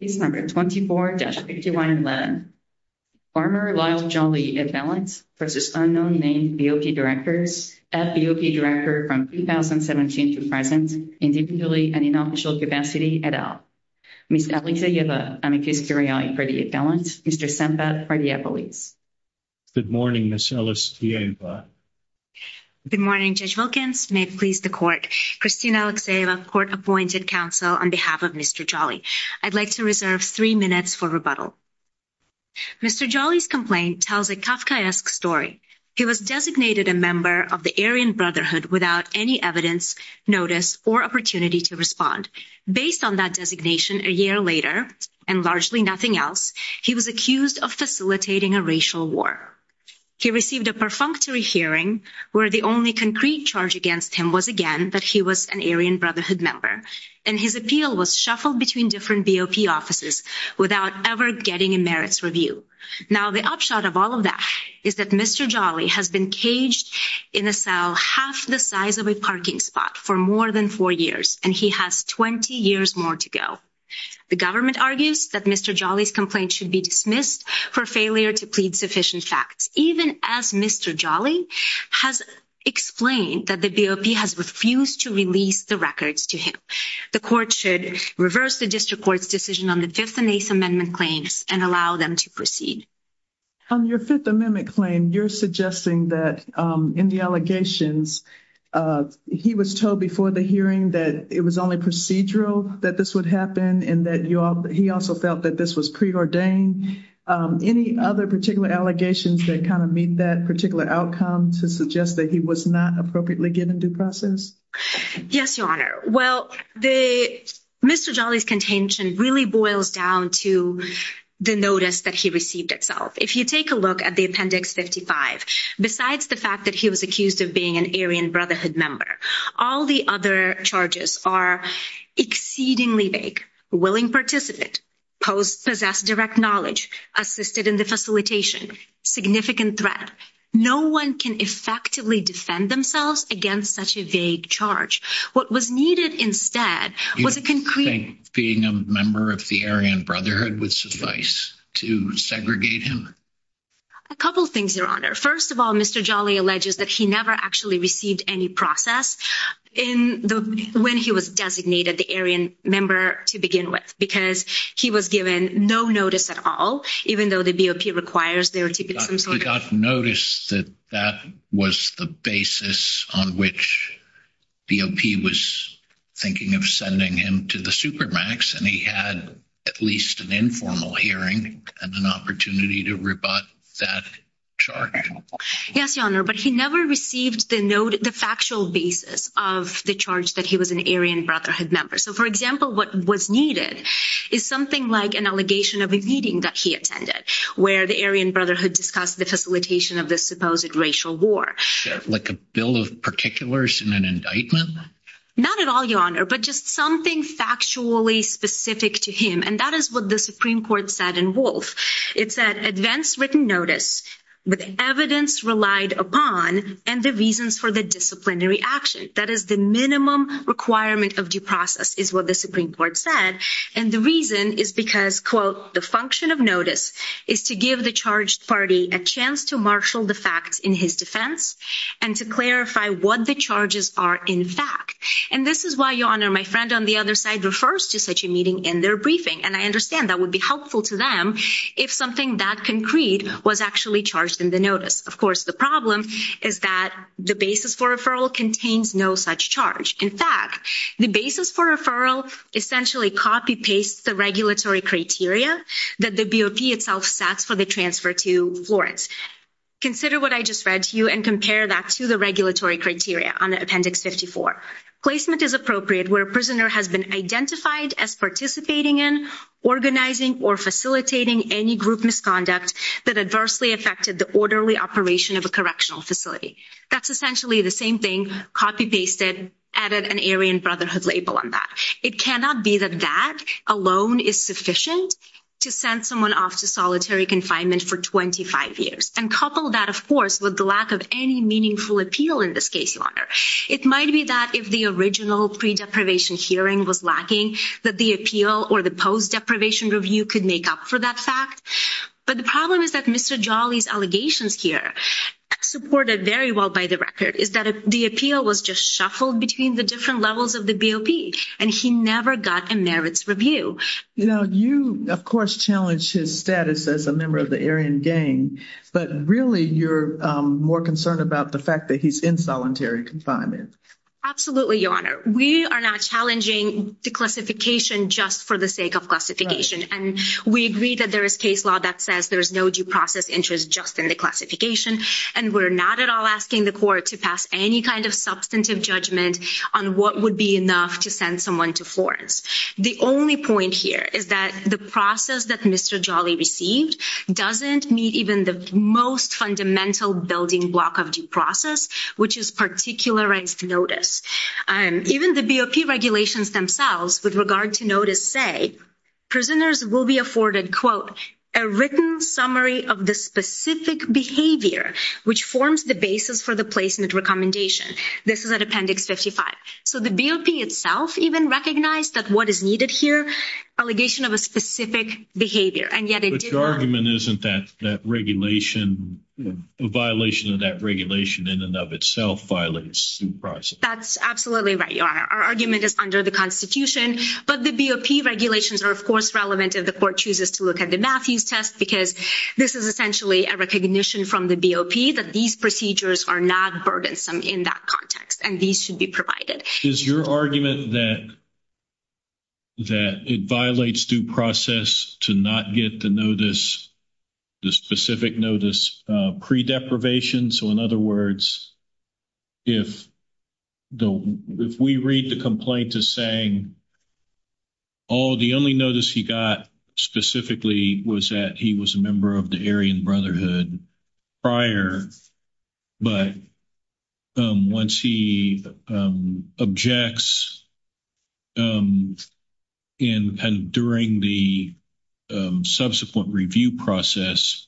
Case No. 24-51-11. Former Lyle Jolley, ad valens, v. Unknown Named BOP Directors, ad BOP Director from 2017 to present, individually and in official capacity, et al. Ms. Alexeyeva, amicus curiae, predi ad valens, Mr. Sempat, predia polis. Good morning, Ms. Alexeyeva. Good morning, Judge Wilkins. May it please the Court. Christine Alexeyeva, appointed counsel on behalf of Mr. Jolley. I'd like to reserve three minutes for rebuttal. Mr. Jolley's complaint tells a Kafkaesque story. He was designated a member of the Aryan Brotherhood without any evidence, notice, or opportunity to respond. Based on that designation, a year later, and largely nothing else, he was accused of facilitating a racial war. He received a perfunctory hearing where the only concrete charge against him was again that he was an Aryan Brotherhood member, and his appeal was shuffled between different BOP offices without ever getting a merits review. Now the upshot of all of that is that Mr. Jolley has been caged in a cell half the size of a parking spot for more than four years, and he has 20 years more to go. The government argues that Mr. Jolley's complaint should be dismissed for failure to plead sufficient facts, even as Mr. Jolley has explained that the BOP has refused to release the records to him. The court should reverse the district court's decision on the Fifth and Eighth Amendment claims and allow them to proceed. On your Fifth Amendment claim, you're suggesting that in the allegations, he was told before the hearing that it was only procedural that this would happen, and that he also felt that this was preordained. Any other particular allegations that kind of meet that particular outcome to suggest that he was not appropriately given due process? Yes, Your Honor. Well, Mr. Jolley's contention really boils down to the notice that he received itself. If you take a look at the Appendix 55, besides the fact that he was accused of being an Aryan Brotherhood member, all the other charges are exceedingly vague. Willing participant, possessed direct knowledge, assisted in the facilitation, significant threat. No one can effectively defend themselves against such a vague charge. What was needed instead was a concrete... You don't think being a member of the Aryan Brotherhood would suffice to segregate him? A couple things, Your Honor. First of all, Mr. Jolley alleges that he never actually received any process when he was designated the Aryan member to begin with, because he was given no notice at all, even though the BOP requires there to be some sort of... He got notice that that was the basis on which BOP was thinking of sending him to the supermax, and he had at least an informal hearing and an opportunity to rebut that charge. Yes, Your Honor, but he never received the factual basis of the charge that he was an Aryan Brotherhood member. So, for example, what was needed is something like an allegation of a meeting that he attended, where the Aryan Brotherhood discussed the facilitation of this supposed racial war. Like a bill of particulars and an indictment? Not at all, Your Honor, but just something factually specific to him, and that is what the Supreme Court said in Wolf. It said, advance written notice with evidence relied upon and the for the disciplinary action. That is the minimum requirement of due process, is what the Supreme Court said, and the reason is because, quote, the function of notice is to give the charged party a chance to marshal the facts in his defense and to clarify what the charges are in fact. And this is why, Your Honor, my friend on the other side refers to such a meeting in their briefing, and I understand that would be helpful to them if something that concrete was actually in the notice. Of course, the problem is that the basis for referral contains no such charge. In fact, the basis for referral essentially copy-pastes the regulatory criteria that the BOP itself sets for the transfer to Florence. Consider what I just read to you and compare that to the regulatory criteria on Appendix 54. Placement is appropriate where a prisoner has been identified as participating in, organizing, or facilitating any group misconduct that adversely affected the orderly operation of a correctional facility. That's essentially the same thing copy-pasted, added an Aryan Brotherhood label on that. It cannot be that that alone is sufficient to send someone off to solitary confinement for 25 years, and couple that, of course, with the lack of any meaningful appeal in this case, Your Honor. It might be that if the original pre-deprivation hearing was lacking, that the appeal or the post-deprivation review could make up for that fact. But the problem is that Mr. Jolly's allegations here, supported very well by the record, is that the appeal was just shuffled between the different levels of the BOP, and he never got a merits review. You know, you, of course, challenge his status as a member of the Aryan Gang, but really you're more concerned about the fact that he's in solitary confinement. Absolutely, Your Honor. We are not challenging declassification just for the sake of classification, and we agree that there is case law that says there is no due process interest just in declassification, and we're not at all asking the court to pass any kind of substantive judgment on what would be enough to send someone to Florence. The only point here is that the process that Mr. Jolly received doesn't meet even the most fundamental building block of due process, which is particularized notice. Even the BOP regulations themselves, with regard to notice, say prisoners will be afforded, quote, a written summary of the specific behavior, which forms the basis for the placement recommendation. This is at Appendix 55. So the BOP itself even recognized that what is needed here, allegation of a specific behavior, and yet it did not- But your argument isn't that violation of that regulation in and of itself violates due process? That's absolutely right, Your Honor. Our argument is under the Constitution, but the BOP regulations are, of course, relevant if the court chooses to look at the Matthews test, because this is essentially a recognition from the BOP that these procedures are not burdensome in that context, and these should be provided. Is your argument that it violates due process to not get the notice, the specific notice, pre-deprivation? So in other words, if we read the complaint as saying, oh, the only notice he got specifically was that he was a member of the Aryan Brotherhood prior, but once he objects during the subsequent review process,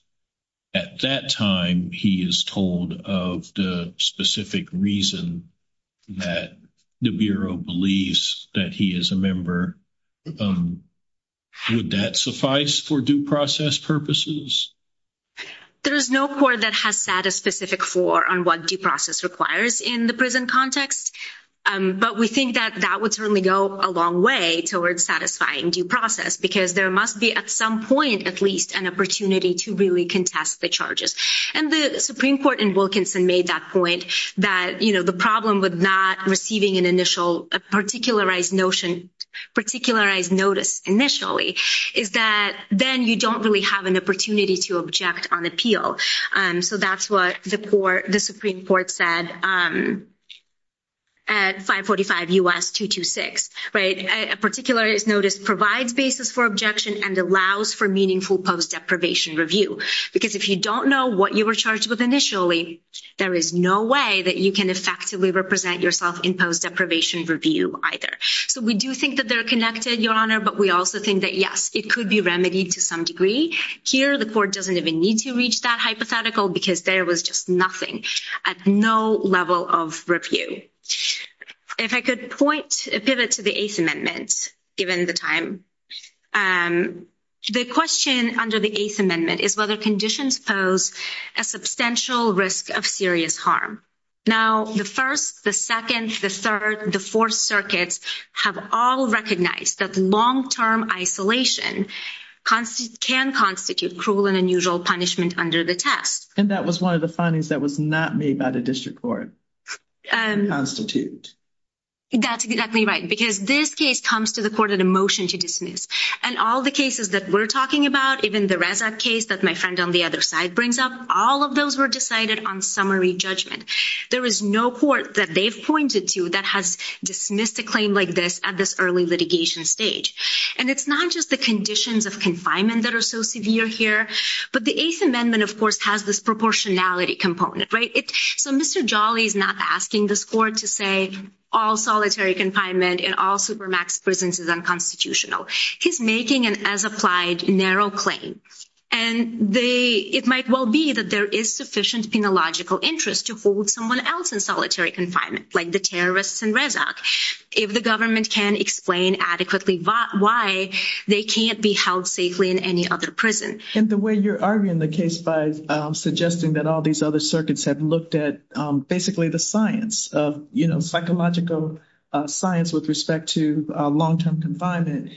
at that time he is told of the specific reason that the Bureau believes that he is a member, would that suffice for due process purposes? There is no court that has set a specific floor on what due process requires in the prison context, but we think that that would certainly go a long way towards satisfying due process, because there must be at some point at least an opportunity to really contest the charges. And the Supreme Court in Wilkinson made that point, that the problem with not receiving an initial particularized notice initially is that then you don't really have an opportunity to object on appeal. So that's what the Supreme Court said at 545 U.S. 226. A particularized notice provides basis for objection and allows for meaningful post-deprivation review, because if you don't know what you were charged with initially, there is no way that you can effectively represent yourself in post-deprivation review either. So we do think that they're connected, Your Honor, but we also think that, yes, it could be remedied to some degree. Here, the court doesn't even need to reach that hypothetical, because there was just nothing at no level of review. If I could pivot to the Eighth Amendment, given the time. The question under the Eighth Amendment is whether conditions pose a substantial risk of serious harm. Now, the First, the Second, the Third, the Fourth Circuits have all recognized that long-term isolation can constitute cruel and unusual punishment under the test. And that was one of the findings that was not made by the district court to constitute. That's exactly right, because this case comes to the court at a motion to dismiss. And all the cases that we're talking about, even the Reza case that my friend on the other side brings up, all of those were decided on summary judgment. There is no court that they've pointed to that has dismissed a claim like this at this early litigation stage. And it's not just the conditions of confinement that are so severe here, but the Eighth Amendment, of course, has this proportionality component, right? So Mr. Jolly is not asking this court to say all solitary confinement in all supermax prisons is unconstitutional. He's making an as-applied narrow claim. And it might well be that there is sufficient penological interest to hold someone else in solitary confinement, like the terrorists in Rezac, if the government can explain adequately why they can't be held safely in any other prison. And the way you're arguing the case by suggesting that all these other circuits have looked at basically the science of, you know, psychological science with respect to long-term confinement,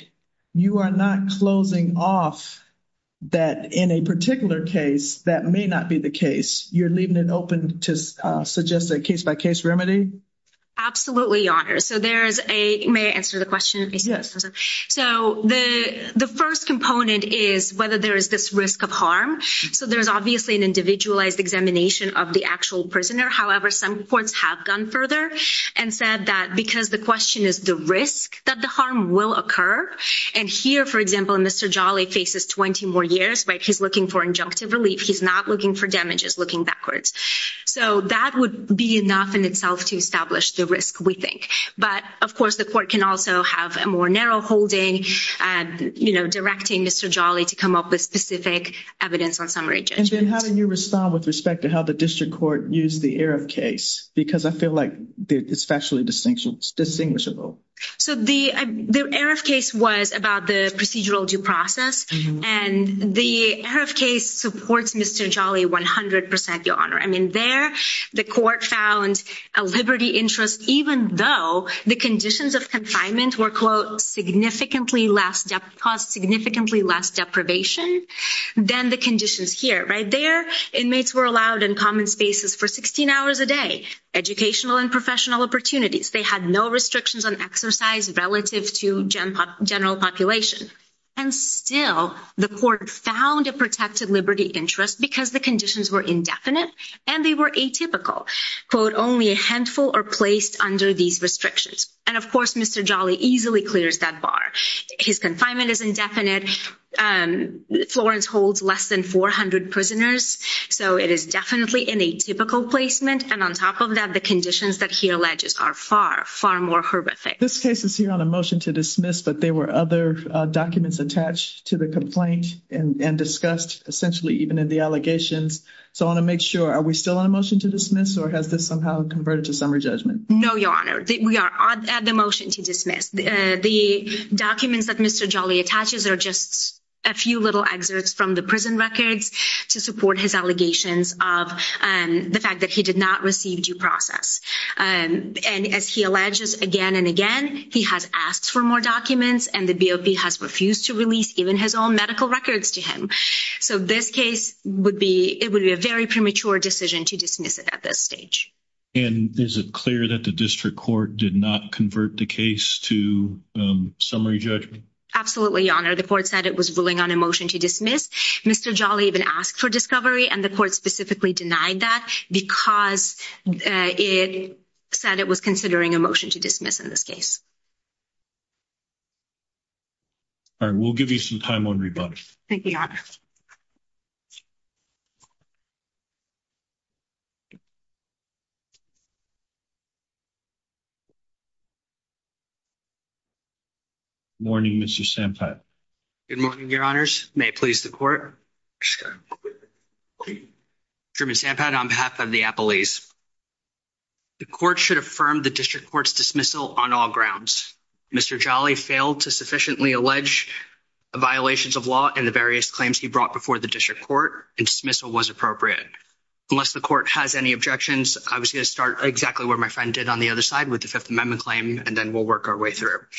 you are not closing off that in a particular case that may not be the case. You're leaving it open to suggest a case-by-case remedy? Absolutely, Your Honor. So there's a—may I answer the question? Yes. So the first component is whether there is this risk of harm. So there's obviously an individualized examination of the actual prisoner. However, some courts have gone further. And said that because the question is the risk that the harm will occur. And here, for example, Mr. Jolly faces 20 more years, right? He's looking for injunctive relief. He's not looking for damages, looking backwards. So that would be enough in itself to establish the risk, we think. But, of course, the court can also have a more narrow holding, you know, directing Mr. Jolly to come up with specific evidence on summary judgment. And then how do you respond with respect to how the district court used the Erev case? Because I feel like it's factually distinguishable. So the Erev case was about the procedural due process. And the Erev case supports Mr. Jolly 100 percent, Your Honor. I mean, there, the court found a liberty interest, even though the conditions of confinement were, quote, significantly less—caused significantly less deprivation than the conditions here, right? Inmates were allowed in common spaces for 16 hours a day, educational and professional opportunities. They had no restrictions on exercise relative to general population. And still, the court found a protected liberty interest because the conditions were indefinite and they were atypical. Quote, only a handful are placed under these restrictions. And, of course, Mr. Jolly easily clears that bar. His confinement is indefinite. And Florence holds less than 400 prisoners. So it is definitely an atypical placement. And on top of that, the conditions that he alleges are far, far more horrific. This case is here on a motion to dismiss, but there were other documents attached to the complaint and discussed, essentially, even in the allegations. So I want to make sure, are we still on a motion to dismiss, or has this somehow converted to summary judgment? No, Your Honor. We are on the motion to dismiss. The documents that Mr. Jolly attaches are just a few little excerpts from the prison records to support his allegations of the fact that he did not receive due process. And as he alleges again and again, he has asked for more documents, and the BOP has refused to release even his own medical records to him. So this case would be, it would be a very premature decision to dismiss it at this stage. And is it clear that the district court did not convert the case to summary judgment? Absolutely, Your Honor. The court said it was ruling on a motion to dismiss. Mr. Jolly even asked for discovery, and the court specifically denied that because it said it was considering a motion to dismiss in this case. All right. We'll give you some time on rebuttal. Thank you, Your Honor. Good morning, Mr. Sampat. Good morning, Your Honors. May it please the court? Truman Sampat on behalf of the appellees. The court should affirm the district court's dismissal on all grounds. Mr. Jolly failed to sufficiently allege violations of law in the various claims he brought before the district court, and dismissal was appropriate. Unless the court has any objections, I was going to start exactly where my friend did on the other side with the Fifth Amendment claim, and then we'll work our way through it.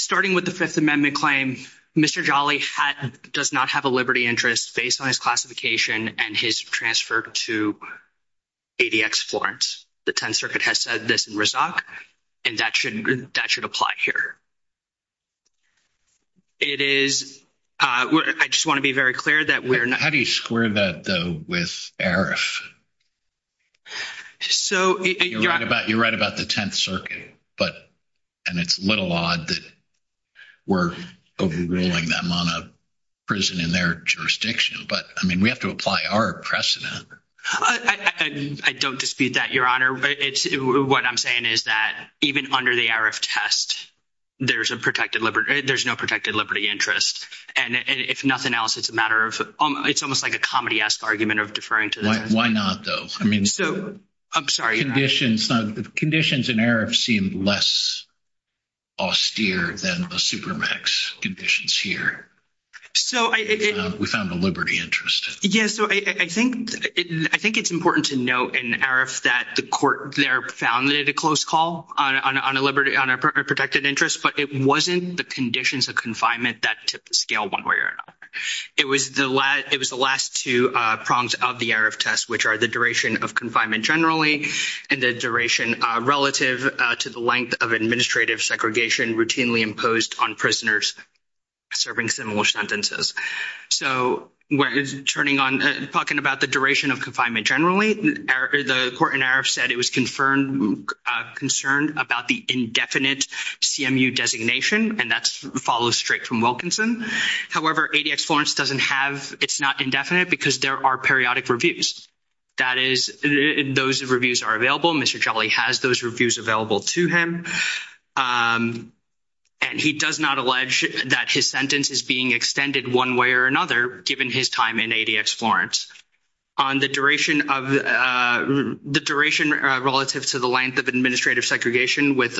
Starting with the Fifth Amendment claim, Mr. Jolly does not have a liberty interest based on his classification and his transfer to ADX Florence. The Tenth Circuit has said this in Rizak, and that should apply here. It is. I just want to be very clear that we're not— How do you square that, though, with ARIF? So— You're right about the Tenth Circuit, but—and it's a little odd that we're overruling them on a prison in their jurisdiction, but, I mean, we have to apply our precedent. I don't dispute that, Your Honor. But what I'm saying is that even under the ARIF test, there's a protected liberty—there's no protected liberty interest, and if nothing else, it's a matter of—it's almost like a comedy-esque argument of deferring to the Tenth Circuit. Why not, though? I mean— So—I'm sorry, Your Honor. The conditions in ARIF seem less austere than the Supermax conditions here. So I— We found a liberty interest. Yeah, so I think it's important to note in ARIF that the court there found it a close call on a liberty—on a protected interest, but it wasn't the conditions of confinement that tipped the scale one way or another. It was the last—it was the last two prongs of the ARIF test, which are the duration of confinement generally and the duration relative to the length of administrative segregation routinely imposed on prisoners serving similar sentences. So turning on—talking about the duration of confinement generally, the court in ARIF said it was confirmed—concerned about the indefinite CMU designation, and that follows straight from Wilkinson. However, ADX Florence doesn't have—it's not indefinite because there are periodic reviews. That is—those reviews are available. Mr. Jolly has those reviews available to him, and he does not allege that his sentence is being extended one way or another given his time in ADX Florence. On the duration of—the duration relative to the length of administrative segregation with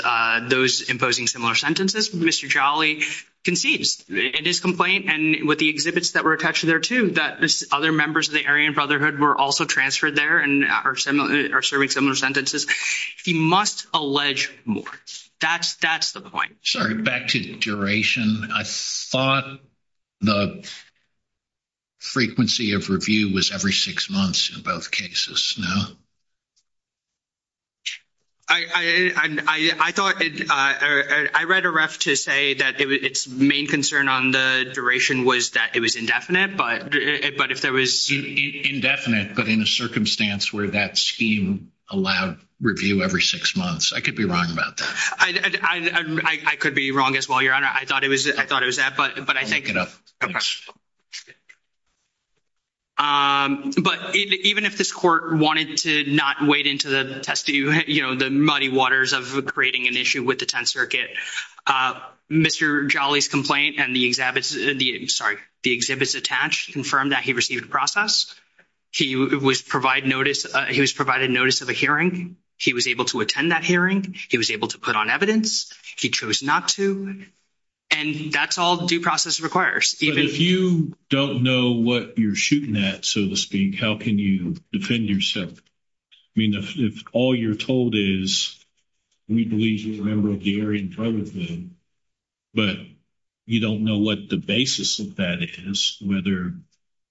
those imposing similar sentences, Mr. Jolly concedes in his complaint, and with the exhibits that were attached there, too, that other members of the Aryan Brotherhood were also transferred there and are serving similar sentences. He must allege more. That's the point. Sorry, back to duration. I thought the frequency of review was every six months in both cases, no? I thought—I read ARIF to say that its main concern on the duration was that it was indefinite, but if there was— Indefinite, but in a circumstance where that scheme allowed review every six months, I could be wrong about that. I could be wrong as well, Your Honor. I thought it was that, but I think— I'll make it up. But even if this court wanted to not wade into the muddy waters of creating an issue with the Tenth Circuit, Mr. Jolly's complaint and the exhibits—sorry, the exhibits attached confirmed that he received a process. He was provided notice of a hearing. He was able to attend that hearing. He was able to put on evidence. He chose not to, and that's all due process requires. But if you don't know what you're shooting at, so to speak, how can you defend yourself? I mean, if all you're told is, we believe you're a member of the Aryan Brotherhood,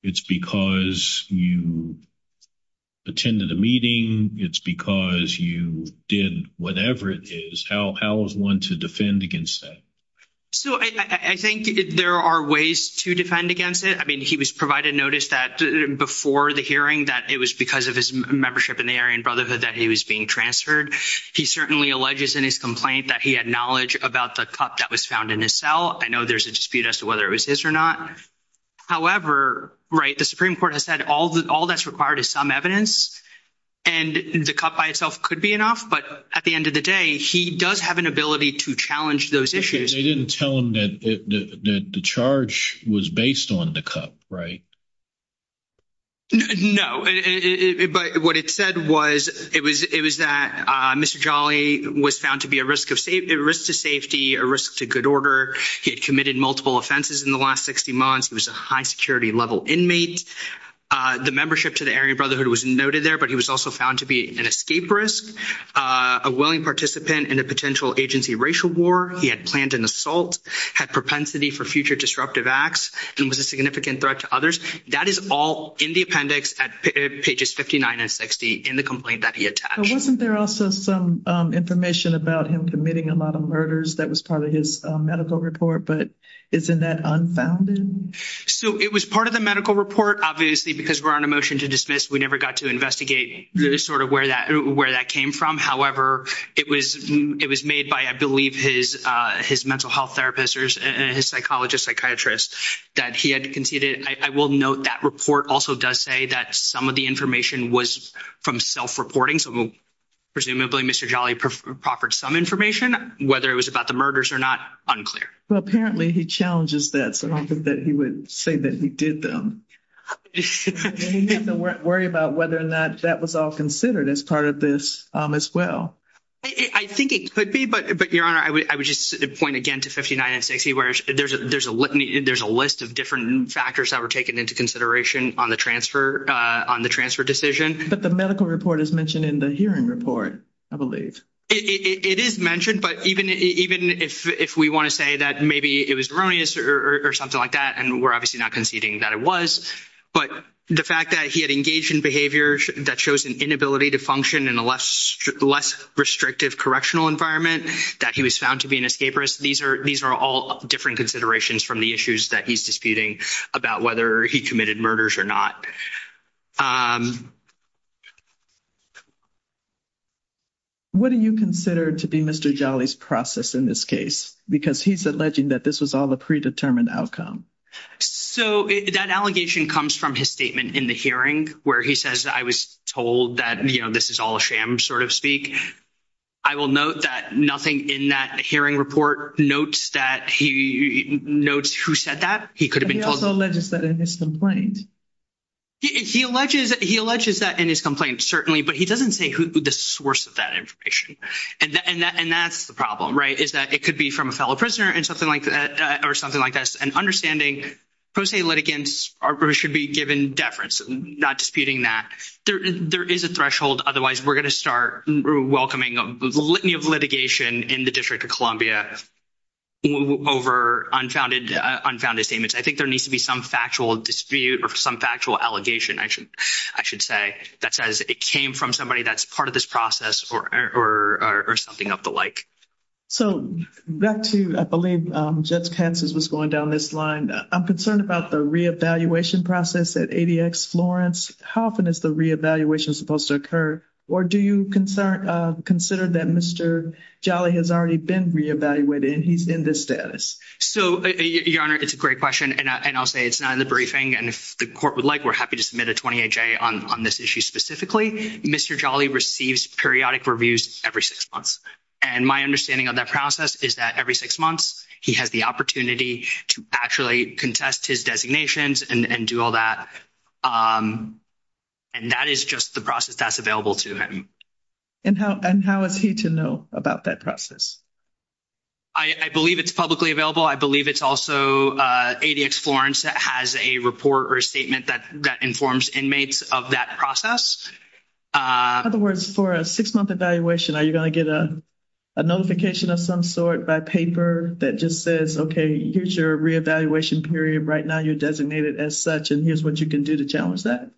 it's because you attended a meeting, it's because you did whatever it is, how is one to defend against that? So I think there are ways to defend against it. I mean, he was provided notice that before the hearing that it was because of his membership in the Aryan Brotherhood that he was being transferred. He certainly alleges in his complaint that he had knowledge about the cup that was found in his cell. I know there's a dispute as to whether it was his or not. However, right, the Supreme Court has said all that's required is some evidence, and the cup by itself could be enough. But at the end of the day, he does have an ability to challenge those issues. They didn't tell him that the charge was based on the cup, right? No. But what it said was, it was that Mr. Jolly was found to be a risk to safety, a risk to good was a high security level inmate. The membership to the Aryan Brotherhood was noted there, but he was also found to be an escape risk, a willing participant in a potential agency racial war. He had planned an assault, had propensity for future disruptive acts, and was a significant threat to others. That is all in the appendix at pages 59 and 60 in the complaint that he attached. Wasn't there also some information about him committing a lot of murders that was part of his medical report? But isn't that unfounded? So it was part of the medical report, obviously, because we're on a motion to dismiss. We never got to investigate sort of where that came from. However, it was made by, I believe, his mental health therapist, his psychologist, psychiatrist, that he had conceded. I will note that report also does say that some of the information was from self-reporting. So presumably, Mr. Jolly proffered some information, whether it was about murders or not, unclear. Well, apparently, he challenges that, so I don't think that he would say that he did them. And he didn't worry about whether or not that was all considered as part of this as well. I think it could be, but, Your Honor, I would just point again to 59 and 60, where there's a list of different factors that were taken into consideration on the transfer decision. But the medical report is mentioned in the hearing report, I believe. It is mentioned, but even if we want to say that maybe it was erroneous or something like that, and we're obviously not conceding that it was, but the fact that he had engaged in behavior that shows an inability to function in a less restrictive correctional environment, that he was found to be an escapist, these are all different considerations from the issues that he's in this case, because he's alleging that this was all a predetermined outcome. So that allegation comes from his statement in the hearing, where he says, I was told that, you know, this is all a sham, sort of speak. I will note that nothing in that hearing report notes that he notes who said that. He could have been told. He also alleges that in his complaint. He alleges that in his complaint, certainly, but he doesn't say the source of that information. And that's the problem, right, is that it could be from a fellow prisoner or something like that. And understanding pro se litigants should be given deference, not disputing that. There is a threshold. Otherwise, we're going to start welcoming a litany of litigation in the District of Columbia over unfounded statements. I think there needs to be some factual dispute or some factual allegation, I should say, that says it came from somebody that's part of this process or something of the like. So back to, I believe, Judge Katz's was going down this line. I'm concerned about the re-evaluation process at ADX Florence. How often is the re-evaluation supposed to occur? Or do you consider that Mr. Jolly has already been re-evaluated and he's in this status? So, Your Honor, it's a great question. And I'll say it's not in the briefing. And if the Court would like, we're happy to submit a 28-J on this issue specifically. Mr. Jolly receives periodic reviews every six months. And my understanding of that process is that every six months, he has the opportunity to actually contest his designations and do all that. And that is just the process that's available to him. And how is he to know about that process? I believe it's publicly available. I believe it's also ADX Florence that has a report or a statement that informs inmates of that process. In other words, for a six-month evaluation, are you going to get a notification of some sort by paper that just says, okay, here's your re-evaluation period right now. You're designated as such. And here's what you can do to challenge that.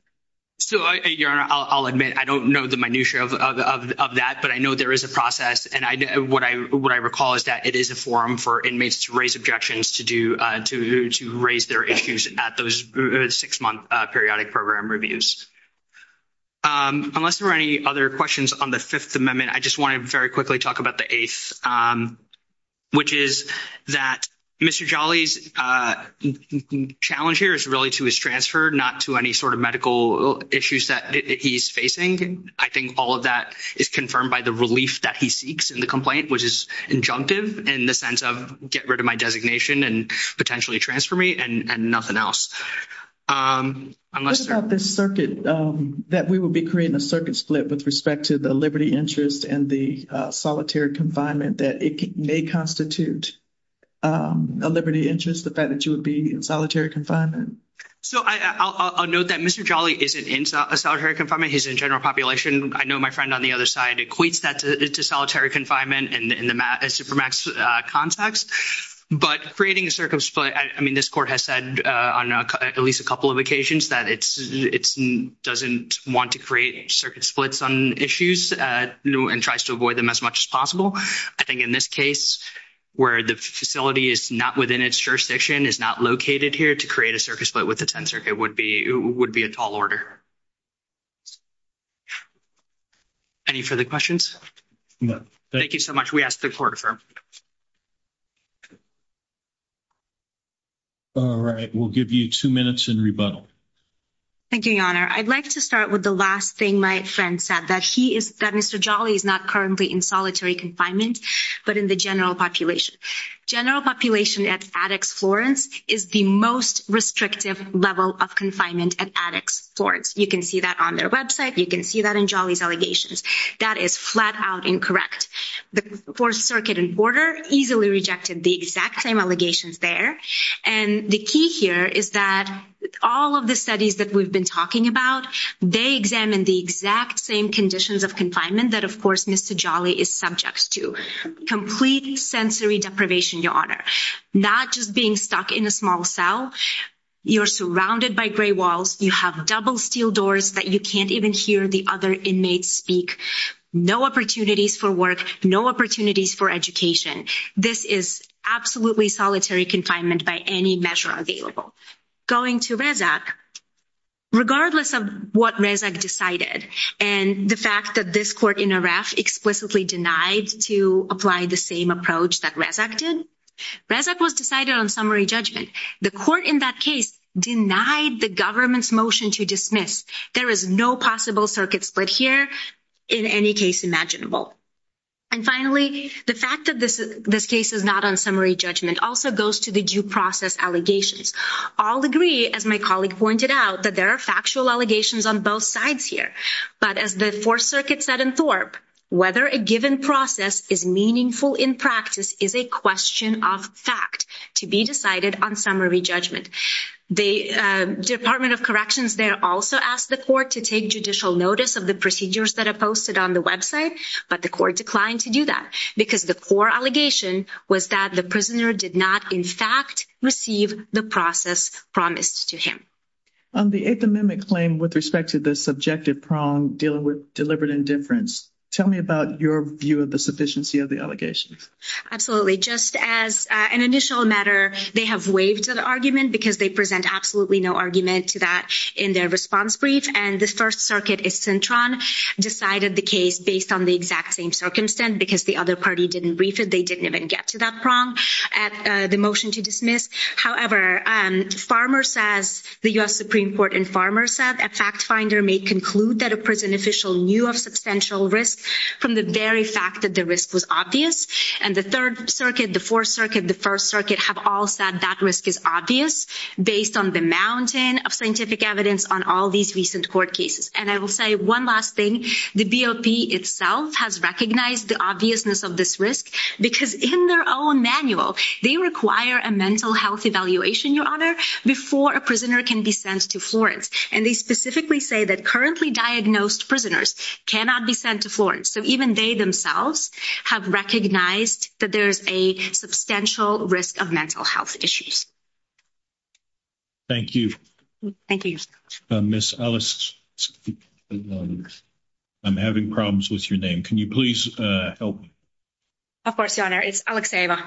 So, Your Honor, I'll admit I don't know the minutiae of that. But I know there is a process. And what I recall is that it is a forum for inmates to raise objections to raise their issues at those six-month periodic program reviews. Unless there are any other questions on the Fifth Amendment, I just want to very quickly talk about the Eighth, which is that Mr. Jolly's challenge here is really to his transfer, not to any sort of medical issues that he's facing. I think all of that is confirmed by the relief that he seeks in the complaint, which is injunctive in the sense of get rid of my designation and potentially transfer me and nothing else. What about this circuit that we will be creating a circuit split with respect to the liberty interest and the solitary confinement that it may constitute a liberty interest, the fact that you would be in solitary confinement? So, I'll note that Mr. Jolly isn't in solitary confinement. He's in general population. I know my friend on the other side equates that to solitary confinement in the supermax context. But creating a circuit split, I mean, this court has said on at least a couple of occasions that it doesn't want to create circuit splits on issues and tries to avoid them as much as possible. I think in this case, where the facility is not within its jurisdiction, is not located here to create a circuit split with the tensor. It would be a tall order. Any further questions? No. Thank you so much. We ask the court to affirm. All right. We'll give you two minutes and rebuttal. Thank you, Your Honor. I'd like to start with the last thing my friend said, that he is, that Mr. Jolly is not currently in solitary confinement, but in the general population. General population at Addix Florence is the most restrictive level of confinement at Addix Florence. You can see that on their website. You can see that in Jolly's allegations. That is flat out incorrect. The fourth circuit and border easily rejected the exact same allegations there. And the key here is that all of the studies that we've been talking about, they examined the exact same conditions of confinement that, of course, Mr. Jolly is subject to. Complete sensory deprivation, Your Honor. Not just being stuck in a small cell. You're surrounded by gray walls. You have double steel doors that you can't even hear the other inmates speak. No opportunities for work. No opportunities for education. This is absolutely solitary confinement by any measure available. Going to Rezac, regardless of what Rezac decided and the fact that this court in IREF explicitly denied to apply the same approach that Rezac did, Rezac was decided on summary judgment. The court in that case denied the government's motion to dismiss. There is no possible circuit split here in any case imaginable. And finally, the fact that this case is not on summary judgment also goes to the due process allegations. I'll agree, as my colleague pointed out, that there are factual allegations on both sides here. But as the Fourth Circuit said in Thorpe, whether a given process is meaningful in practice is a question of fact to be decided on summary judgment. The Department of Corrections there also asked the court to take judicial notice of the procedures that are posted on the website, but the court declined to do that because the core allegation was that the prisoner did not, in fact, receive the process promised to him. On the Eighth Amendment claim with respect to subjective prong dealing with deliberate indifference, tell me about your view of the sufficiency of the allegations. Absolutely. Just as an initial matter, they have waived the argument because they present absolutely no argument to that in their response brief. And the First Circuit, Isentron, decided the case based on the exact same circumstance because the other party didn't brief it. They didn't even get to that prong at the motion to dismiss. However, the U.S. Supreme Court and Farmers said a fact finder may conclude that a prison official knew of substantial risk from the very fact that the risk was obvious. And the Third Circuit, the Fourth Circuit, the First Circuit have all said that risk is obvious based on the mountain of scientific evidence on all these recent court cases. And I will say one last thing. The BOP itself has recognized the obviousness of this risk because in their own manual, they require a mental health evaluation, Your Honor, before a prisoner can be sent to Florence. And they specifically say that currently diagnosed prisoners cannot be sent to Florence. So even they themselves have recognized that there's a substantial risk of mental health issues. Thank you. Thank you. Ms. Ellis, I'm having problems with your name. Can you please help? Of course, Your Honor. It's Alex Ava.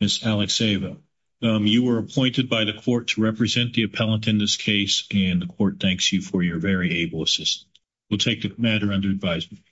Ms. Alex Ava, you were appointed by the court to represent the appellant in this case and the court thanks you for your very able assistance. We'll take the matter under advisement.